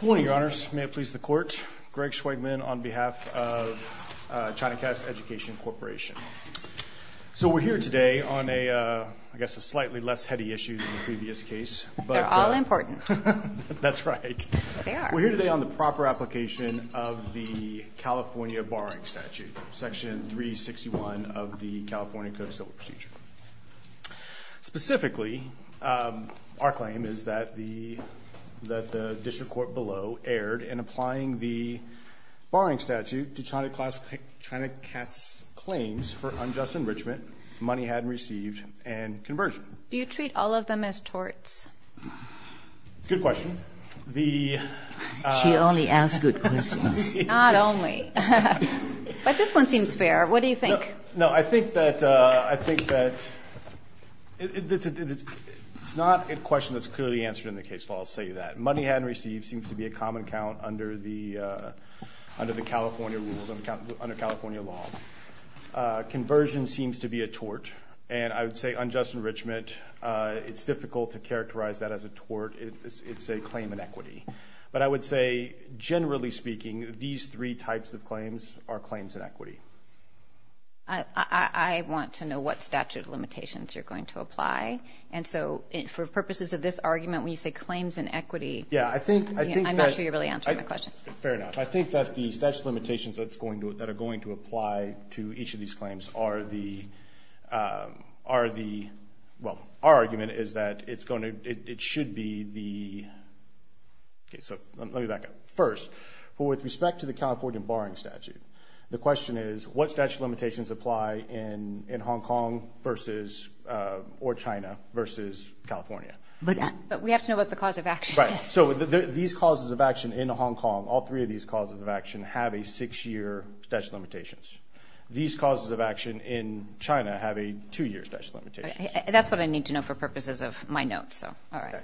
Good morning, Your Honors. May it please the Court, Greg Schweigman on behalf of Chinacast Education Corporation. So we're here today on a slightly less heady issue than the previous case. They're all important. That's right. They are. We're here today on the proper application of the California Borrowing Statute, Section 361 of the California Code of Civil Procedure. Specifically, our claim is that the District Court below erred in applying the borrowing statute to Chinacast's claims for unjust enrichment, money hadn't received, and conversion. Do you treat all of them as torts? Good question. She only asks good questions. Not only. But this one seems fair. What do you think? No, I think that it's not a question that's clearly answered in the case law. I'll say that. Money hadn't received seems to be a common count under the California rules, under California law. Conversion seems to be a tort. And I would say unjust enrichment, it's difficult to characterize that as a tort. It's a claim in equity. But I would say, generally speaking, these three types of claims are claims in equity. I want to know what statute of limitations you're going to apply. And so, for purposes of this argument, when you say claims in equity, I'm not sure you're really answering my question. Fair enough. I think that the statute of limitations that are going to apply to each of these claims are the – well, our argument is that it should be the – so let me back up. First, with respect to the California borrowing statute, the question is, what statute of limitations apply in Hong Kong versus – or China versus California? But we have to know what the cause of action is. Right. So these causes of action in Hong Kong, all three of these causes of action have a six-year statute of limitations. These causes of action in China have a two-year statute of limitations. That's what I need to know for purposes of my notes. So, all right.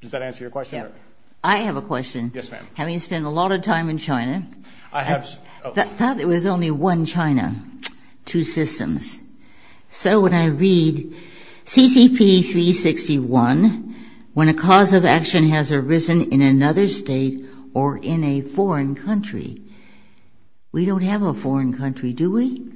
Does that answer your question? I have a question. Yes, ma'am. Having spent a lot of time in China, I thought there was only one China, two systems. So when I read CCP 361, when a cause of action has arisen in another state or in a foreign country, we don't have a foreign country, do we?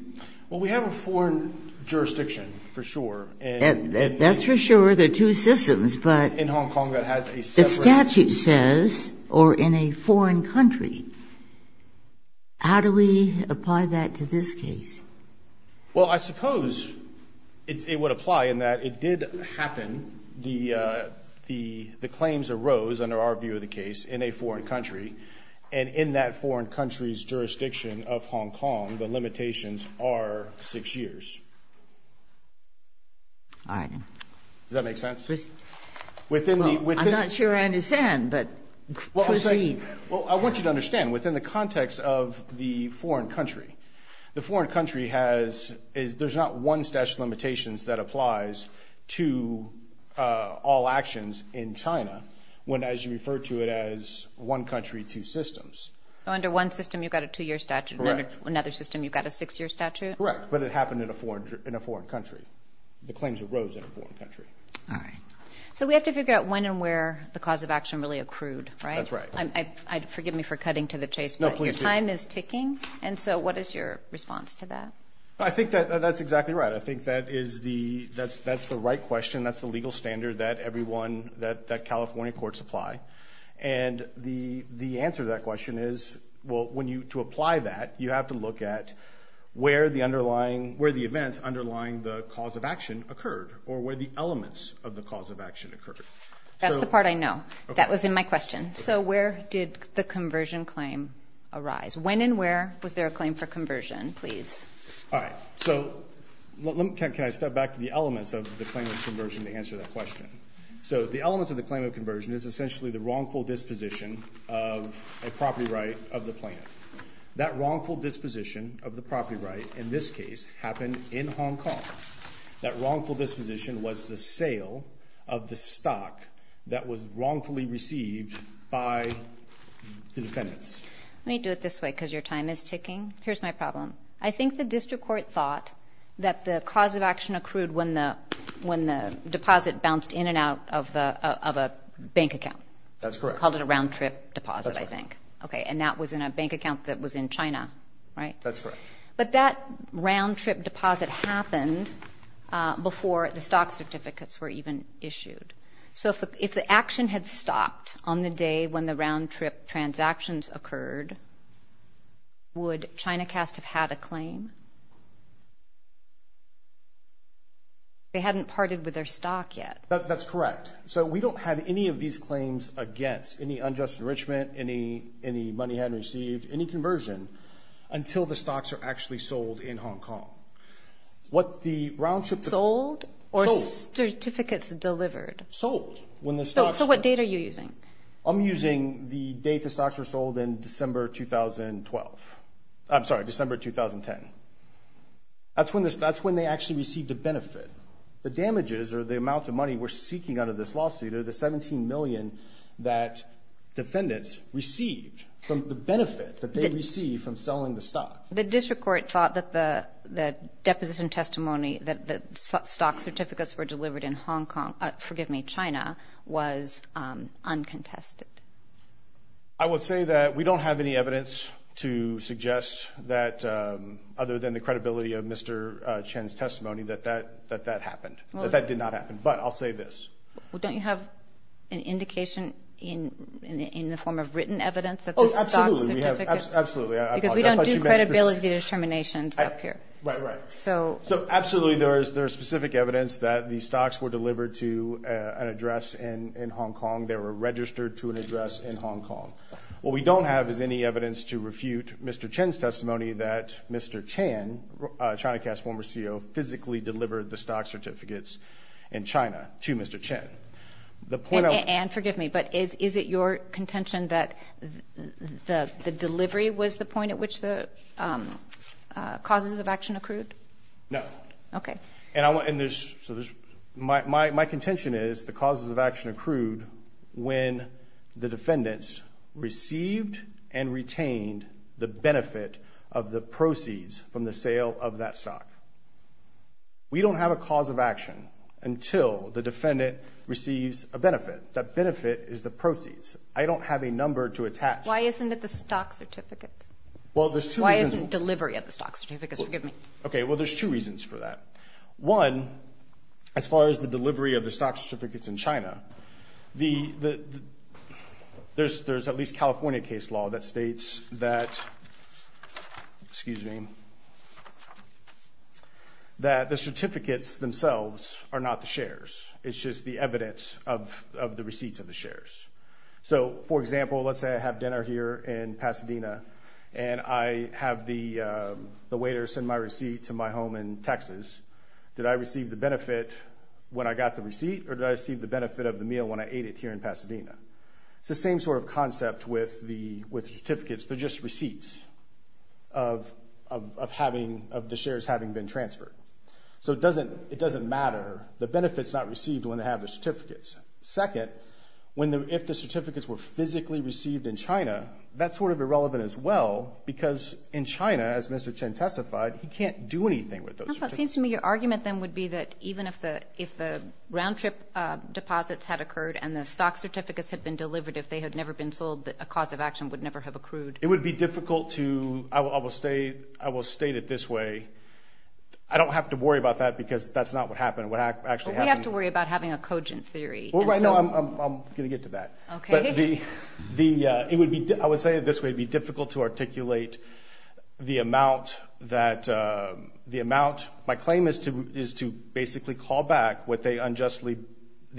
Well, we have a foreign jurisdiction, for sure. That's for sure, the two systems, but – In Hong Kong, that has a separate – The statute says, or in a foreign country. How do we apply that to this case? Well, I suppose it would apply in that it did happen. The claims arose, under our view of the case, in a foreign country. And in that foreign country's jurisdiction of Hong Kong, the limitations are six years. All right. Does that make sense? Well, I'm not sure I understand, but proceed. Well, I want you to understand, within the context of the foreign country, the foreign country has – there's not one statute of limitations that applies to all actions in China, when, as you refer to it, as one country, two systems. So under one system, you've got a two-year statute. Correct. Under another system, you've got a six-year statute? Correct. But it happened in a foreign country. The claims arose in a foreign country. All right. So we have to figure out when and where the cause of action really accrued, right? That's right. Forgive me for cutting to the chase. No, please do. Your time is ticking, and so what is your response to that? I think that that's exactly right. I think that is the – that's the right question. That's the legal standard that everyone – that California courts apply. And the answer to that question is, well, when you – to apply that, you have to look at where the underlying – where the events underlying the cause of action occurred, or where the elements of the cause of action occurred. That's the part I know. That was in my question. So where did the conversion claim arise? When and where was there a claim for conversion? Please. All right. So can I step back to the elements of the claim of conversion to answer that question? So the elements of the claim of conversion is essentially the wrongful disposition of a property right of the plan. That wrongful disposition of the property right in this case happened in Hong Kong. That wrongful disposition was the sale of the stock that was wrongfully received by the defendants. Let me do it this way because your time is ticking. Here's my problem. I think the district court thought that the cause of action accrued when the deposit bounced in and out of a bank account. That's correct. Called it a round-trip deposit, I think. That's correct. Okay, and that was in a bank account that was in China, right? That's correct. But that round-trip deposit happened before the stock certificates were even issued. So if the action had stopped on the day when the round-trip transactions occurred, would Chinacast have had a claim? They hadn't parted with their stock yet. That's correct. So we don't have any of these claims against any unjust enrichment, any money hadn't received, any conversion until the stocks are actually sold in Hong Kong. Sold or certificates delivered? Sold. So what date are you using? I'm using the date the stocks were sold in December 2012. I'm sorry, December 2010. That's when they actually received a benefit. The damages or the amount of money we're seeking under this lawsuit are the $17 million that defendants received, the benefit that they received from selling the stock. The district court thought that the deposition testimony, that the stock certificates were delivered in Hong Kong, forgive me, China, was uncontested. I would say that we don't have any evidence to suggest that, other than the credibility of Mr. Chin's testimony, that that happened, that that did not happen. But I'll say this. Well, don't you have an indication in the form of written evidence of the stock certificates? Oh, absolutely. Absolutely. Because we don't do credibility determinations up here. Right, right. So absolutely there is specific evidence that the stocks were delivered to an address in Hong Kong. They were registered to an address in Hong Kong. What we don't have is any evidence to refute Mr. Chin's testimony that Mr. Chin, Chinacast's former CEO, physically delivered the stock certificates in China to Mr. Chin. And forgive me, but is it your contention that the delivery was the point at which the causes of action accrued? No. Okay. My contention is the causes of action accrued when the defendants received and retained the benefit of the proceeds from the sale of that stock. We don't have a cause of action until the defendant receives a benefit. That benefit is the proceeds. I don't have a number to attach. Why isn't it the stock certificates? Well, there's two reasons. Why isn't delivery of the stock certificates? Forgive me. Okay. Well, there's two reasons for that. One, as far as the delivery of the stock certificates in China, there's at least California case law that states that, excuse me, that the certificates themselves are not the shares. It's just the evidence of the receipts of the shares. So, for example, let's say I have dinner here in Pasadena, and I have the waiter send my receipt to my home in Texas. Did I receive the benefit when I got the receipt, or did I receive the benefit of the meal when I ate it here in Pasadena? It's the same sort of concept with certificates. They're just receipts of the shares having been transferred. So it doesn't matter. The benefit's not received when they have the certificates. Second, if the certificates were physically received in China, that's sort of irrelevant as well, because in China, as Mr. Chen testified, he can't do anything with those certificates. It seems to me your argument then would be that even if the round-trip deposits had occurred and the stock certificates had been delivered, if they had never been sold, a cause of action would never have accrued. It would be difficult to – I will state it this way. I don't have to worry about that because that's not what happened. We have to worry about having a cogent theory. I'm going to get to that. Okay. I would say it this way. It would be difficult to articulate the amount. My claim is to basically call back the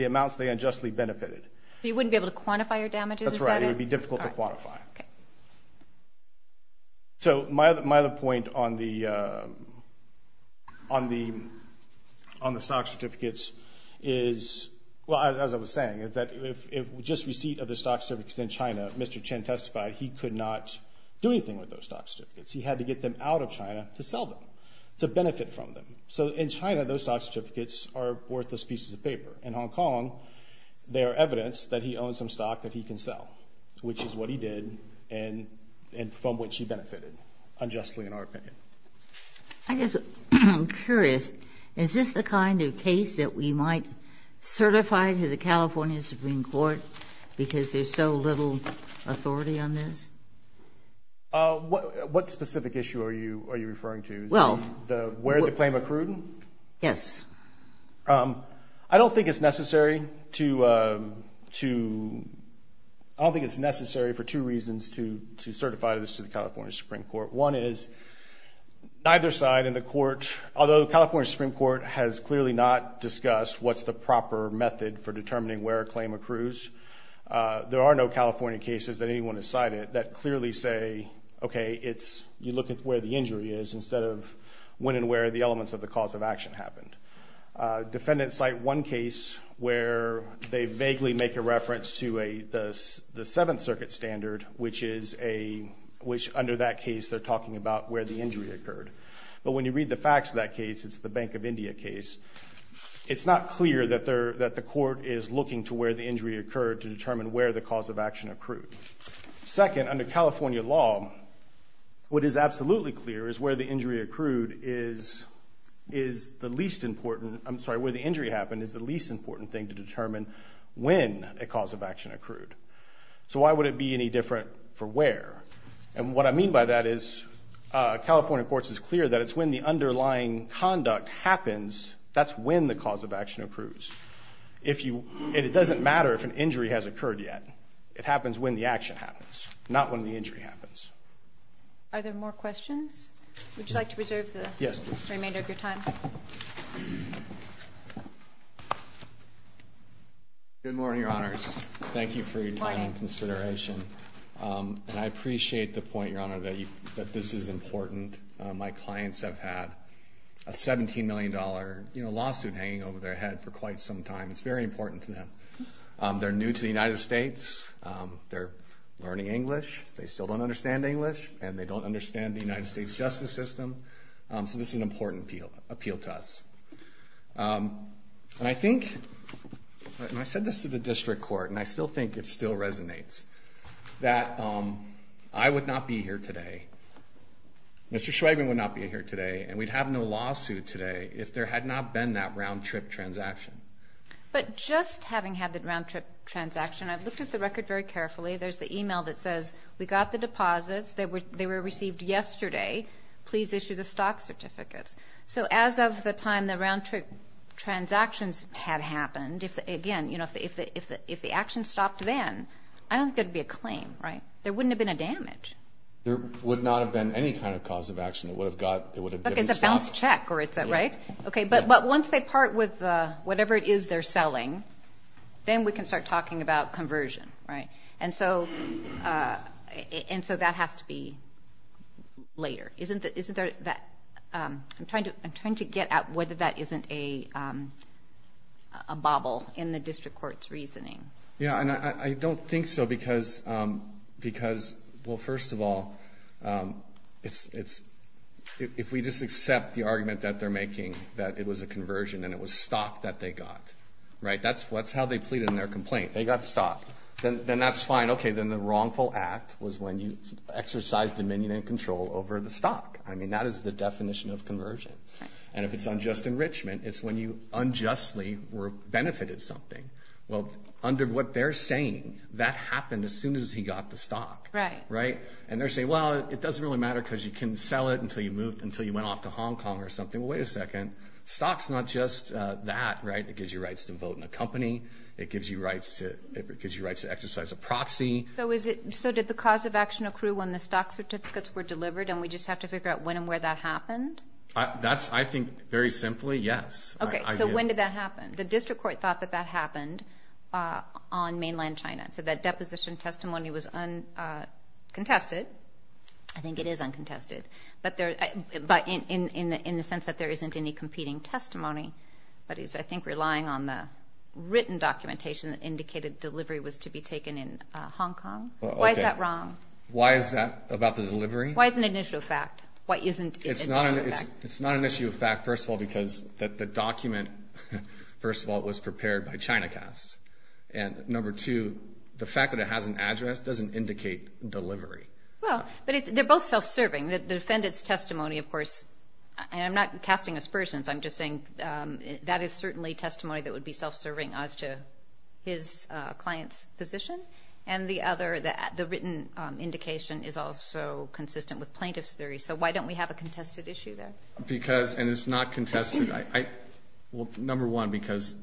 amounts they unjustly benefited. You wouldn't be able to quantify your damages? That's right. It would be difficult to quantify. Okay. So my other point on the stock certificates is, well, as I was saying, is that if just receipt of the stock certificates in China, Mr. Chen testified, he could not do anything with those stock certificates. He had to get them out of China to sell them, to benefit from them. So in China, those stock certificates are worthless pieces of paper. In Hong Kong, they are evidence that he owns some stock that he can sell, which is what he did and from which he benefited unjustly in our opinion. I guess I'm curious. Is this the kind of case that we might certify to the California Supreme Court because there's so little authority on this? What specific issue are you referring to? Is it where the claim accrued? Yes. I don't think it's necessary for two reasons to certify this to the California Supreme Court. One is, neither side in the court, although the California Supreme Court has clearly not discussed what's the proper method for determining where a claim accrues, there are no California cases that anyone has cited that clearly say, okay, you look at where the injury is instead of when and where the elements of the cause of action happened. Defendants cite one case where they vaguely make a reference to the Seventh Circuit standard, which under that case they're talking about where the injury occurred. But when you read the facts of that case, it's the Bank of India case, it's not clear that the court is looking to where the injury occurred to determine where the cause of action accrued. Second, under California law, what is absolutely clear is where the injury accrued is the least important, I'm sorry, where the injury happened is the least important thing to determine when a cause of action accrued. So why would it be any different for where? And what I mean by that is California courts is clear that it's when the underlying conduct happens, that's when the cause of action accrues. It doesn't matter if an injury has occurred yet. It happens when the action happens, not when the injury happens. Are there more questions? Would you like to preserve the remainder of your time? Good morning, Your Honors. Thank you for your time and consideration. And I appreciate the point, Your Honor, that this is important. My clients have had a $17 million lawsuit hanging over their head for quite some time. It's very important to them. They're new to the United States. They're learning English. They still don't understand English, and they don't understand the United States justice system. So this is an important appeal to us. And I think, and I said this to the district court, and I still think it still resonates, that I would not be here today, Mr. Schweigman would not be here today, and we'd have no lawsuit today if there had not been that round-trip transaction. But just having had that round-trip transaction, I've looked at the record very carefully. There's the email that says, we got the deposits. They were received yesterday. Please issue the stock certificates. So as of the time the round-trip transactions had happened, again, if the action stopped then, I don't think there would be a claim, right? There wouldn't have been a damage. There would not have been any kind of cause of action. It would have stopped. It's a bounced check, right? Okay, but once they part with whatever it is they're selling, then we can start talking about conversion, right? And so that has to be later. I'm trying to get at whether that isn't a bobble in the district court's reasoning. Yeah, and I don't think so because, well, first of all, if we just accept the argument that they're making that it was a conversion and it was stock that they got, right? That's how they pleaded in their complaint. They got stock. Then that's fine. Okay, then the wrongful act was when you exercised dominion and control over the stock. I mean, that is the definition of conversion. And if it's unjust enrichment, it's when you unjustly benefited something. Well, under what they're saying, that happened as soon as he got the stock, right? And they're saying, well, it doesn't really matter because you can sell it until you went off to Hong Kong or something. Well, wait a second. Stock's not just that, right? It gives you rights to vote in a company. It gives you rights to exercise a proxy. So did the cause of action accrue when the stock certificates were delivered and we just have to figure out when and where that happened? That's, I think, very simply, yes. Okay, so when did that happen? The district court thought that that happened on mainland China. So that deposition testimony was uncontested. I think it is uncontested. But in the sense that there isn't any competing testimony, but it's, I think, relying on the written documentation that indicated delivery was to be taken in Hong Kong. Why is that wrong? Why is that about the delivery? Why isn't it an issue of fact? It's not an issue of fact, first of all, because the document, first of all, was prepared by ChinaCast. And number two, the fact that it has an address doesn't indicate delivery. Well, but they're both self-serving. The defendant's testimony, of course, and I'm not casting aspersions, I'm just saying that is certainly testimony that would be self-serving as to his client's position. And the other, the written indication is also consistent with plaintiff's theory. So why don't we have a contested issue there? Because, and it's not contested. Well, number one, because,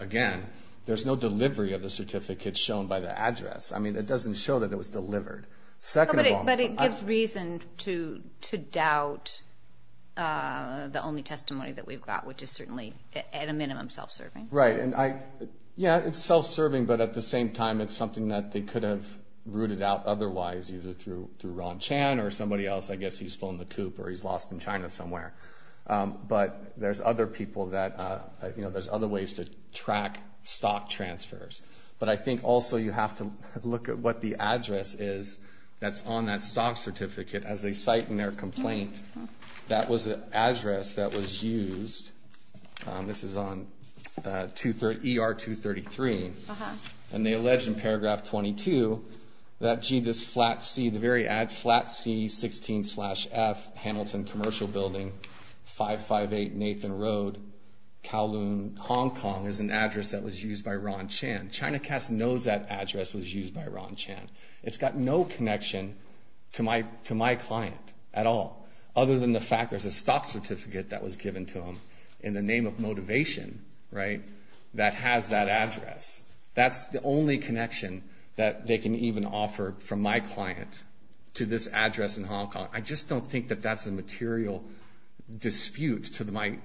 again, there's no delivery of the certificate shown by the address. I mean, it doesn't show that it was delivered. But it gives reason to doubt the only testimony that we've got, which is certainly, at a minimum, self-serving. Right. Yeah, it's self-serving, but at the same time, it's something that they could have rooted out otherwise, either through Ron Chan or somebody else. I guess he's flown the coop or he's lost in China somewhere. But there's other people that, you know, there's other ways to track stock transfers. But I think also you have to look at what the address is that's on that stock certificate as they cite in their complaint. That was the address that was used. This is on ER-233. And they allege in paragraph 22 that, gee, this flat C, the very flat C-16-F, Hamilton Commercial Building, 558 Nathan Road, Kowloon, Hong Kong is an address that was used by Ron Chan. ChinaCast knows that address was used by Ron Chan. It's got no connection to my client at all, other than the fact there's a stock certificate that was given to him in the That's the only connection that they can even offer from my client to this address in Hong Kong. I just don't think that that's a material dispute to my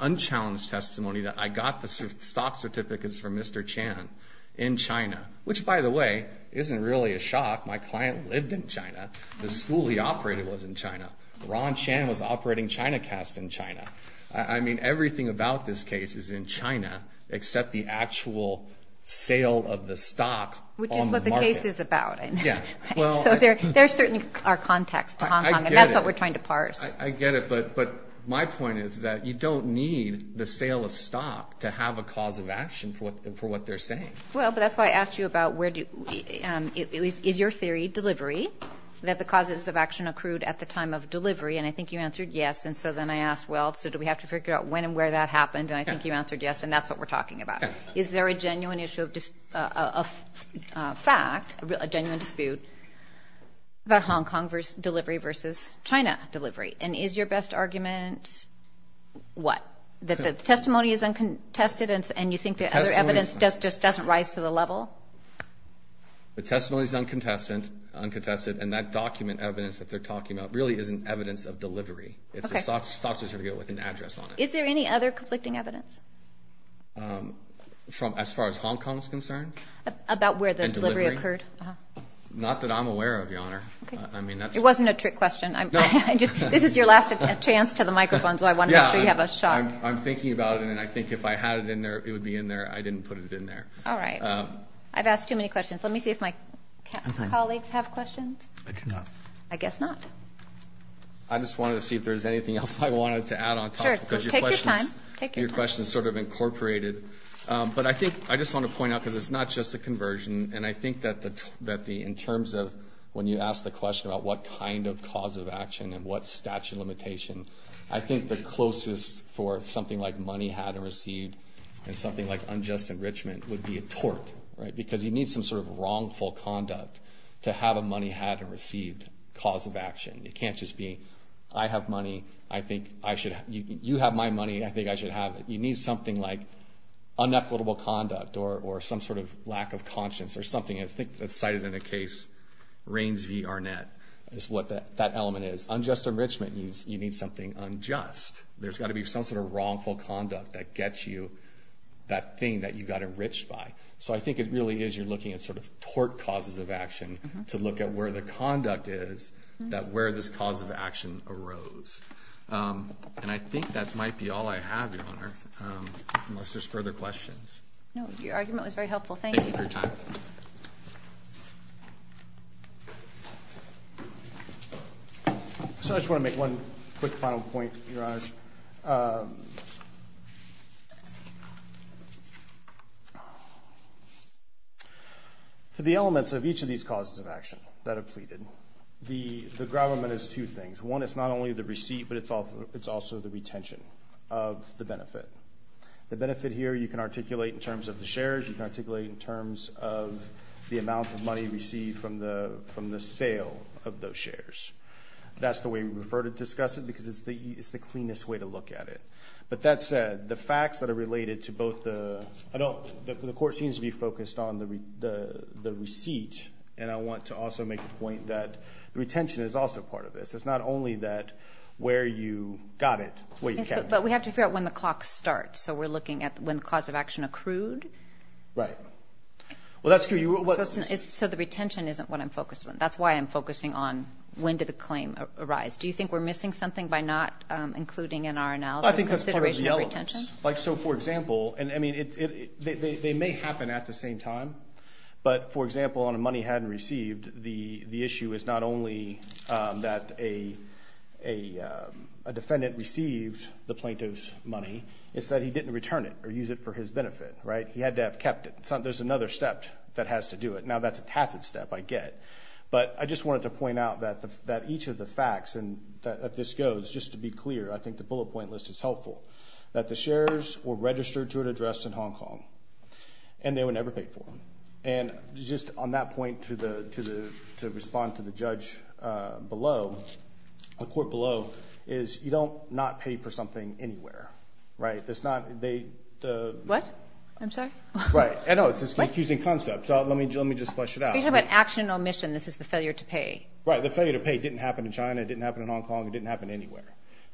unchallenged testimony that I got the stock certificates from Mr. Chan in China, which, by the way, isn't really a shock. My client lived in China. The school he operated was in China. Ron Chan was operating ChinaCast in China. I mean, everything about this case is in China, except the actual sale of the stock on the market. Which is what the case is about. Yeah. So there certainly are contacts to Hong Kong. I get it. And that's what we're trying to parse. I get it. But my point is that you don't need the sale of stock to have a cause of action for what they're saying. Well, but that's why I asked you about is your theory delivery, that the causes of action accrued at the time of delivery? And I think you answered yes. And so then I asked, well, so do we have to figure out when and where that happened? And I think you answered yes. And that's what we're talking about. Is there a genuine issue of fact, a genuine dispute, about Hong Kong delivery versus China delivery? And is your best argument what? That the testimony is uncontested and you think the other evidence just doesn't rise to the level? The testimony is uncontested. And that document evidence that they're talking about really isn't evidence of delivery. It's a software with an address on it. Is there any other conflicting evidence? As far as Hong Kong is concerned? About where the delivery occurred? Not that I'm aware of, Your Honor. It wasn't a trick question. This is your last chance to the microphone, so I wonder if you have a shot. I'm thinking about it, and I think if I had it in there, it would be in there. I didn't put it in there. All right. I've asked too many questions. Let me see if my colleagues have questions. I guess not. I just wanted to see if there was anything else I wanted to add on top. Sure. Take your time. Take your time. Because your question is sort of incorporated. But I think I just want to point out, because it's not just a conversion, and I think that in terms of when you asked the question about what kind of cause of action and what statute of limitation, I think the closest for something like money had or received and something like unjust enrichment would be a tort, right? Because you need some sort of wrongful conduct to have a money had or received cause of action. It can't just be I have money. You have my money. I think I should have it. You need something like unequitable conduct or some sort of lack of conscience or something. I think it's cited in a case, Raines v. Arnett, is what that element is. Unjust enrichment means you need something unjust. There's got to be some sort of wrongful conduct that gets you that thing that you got enriched by. So I think it really is you're looking at sort of tort causes of action to look at where the conduct is that where this cause of action arose. And I think that might be all I have, Your Honor, unless there's further questions. No, your argument was very helpful. Thank you. Thank you for your time. So I just want to make one quick final point, Your Honors. For the elements of each of these causes of action that are pleaded, the gravamen is two things. One is not only the receipt, but it's also the retention of the benefit. The benefit here you can articulate in terms of the shares. You can articulate in terms of the amount of money received from the sale of those shares. That's the way we prefer to discuss it because it's the cleanest way to look at it. But that said, the facts that are related to both the adult, the court seems to be focused on the receipt, and I want to also make the point that the retention is also part of this. It's not only that where you got it, where you kept it. But we have to figure out when the clock starts. So we're looking at when the cause of action accrued. Right. Well, that's true. So the retention isn't what I'm focused on. That's why I'm focusing on when did the claim arise. Do you think we're missing something by not including in our analysis I think that's part of the elements. So, for example, they may happen at the same time. But, for example, on a money hadn't received, the issue is not only that a defendant received the plaintiff's money, it's that he didn't return it or use it for his benefit. Right. He had to have kept it. There's another step that has to do it. Now that's a tacit step, I get. But I just wanted to point out that each of the facts, and this goes, just to be clear, I think the bullet point list is helpful, that the shares were registered to an address in Hong Kong, and they were never paid for. And just on that point, to respond to the judge below, the court below, is you don't not pay for something anywhere. Right. What? I'm sorry. Right. I know. It's a confusing concept. Let me just flesh it out. You're talking about action omission. This is the failure to pay. Right. The failure to pay didn't happen in China. It didn't happen in Hong Kong. It didn't happen anywhere.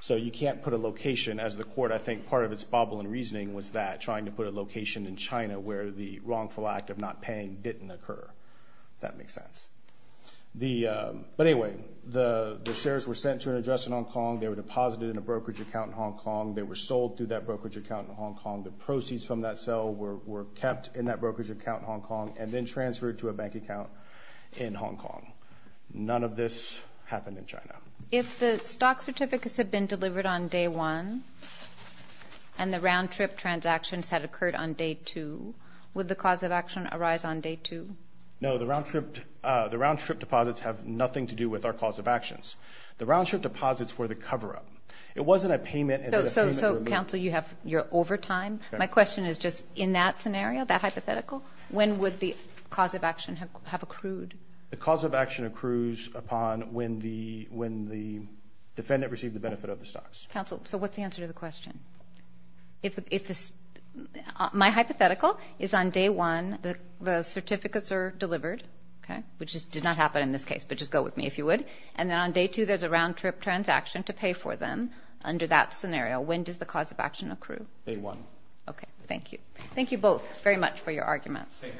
So you can't put a location. As the court, I think part of its bubble in reasoning was that, trying to put a location in China where the wrongful act of not paying didn't occur. Does that make sense? But, anyway, the shares were sent to an address in Hong Kong. They were deposited in a brokerage account in Hong Kong. The proceeds from that sale were kept in that brokerage account in Hong Kong, and then transferred to a bank account in Hong Kong. None of this happened in China. If the stock certificates had been delivered on day one, and the round-trip transactions had occurred on day two, would the cause of action arise on day two? No. The round-trip deposits have nothing to do with our cause of actions. The round-trip deposits were the cover-up. It wasn't a payment. So, counsel, you're over time. My question is just, in that scenario, that hypothetical, when would the cause of action have accrued? The cause of action accrues upon when the defendant received the benefit of the stocks. Counsel, so what's the answer to the question? My hypothetical is on day one, the certificates are delivered, which did not happen in this case, but just go with me if you would, and then on day two there's a round-trip transaction to pay for them under that scenario. When does the cause of action accrue? Day one. Okay, thank you. Thank you both very much for your arguments. Take care.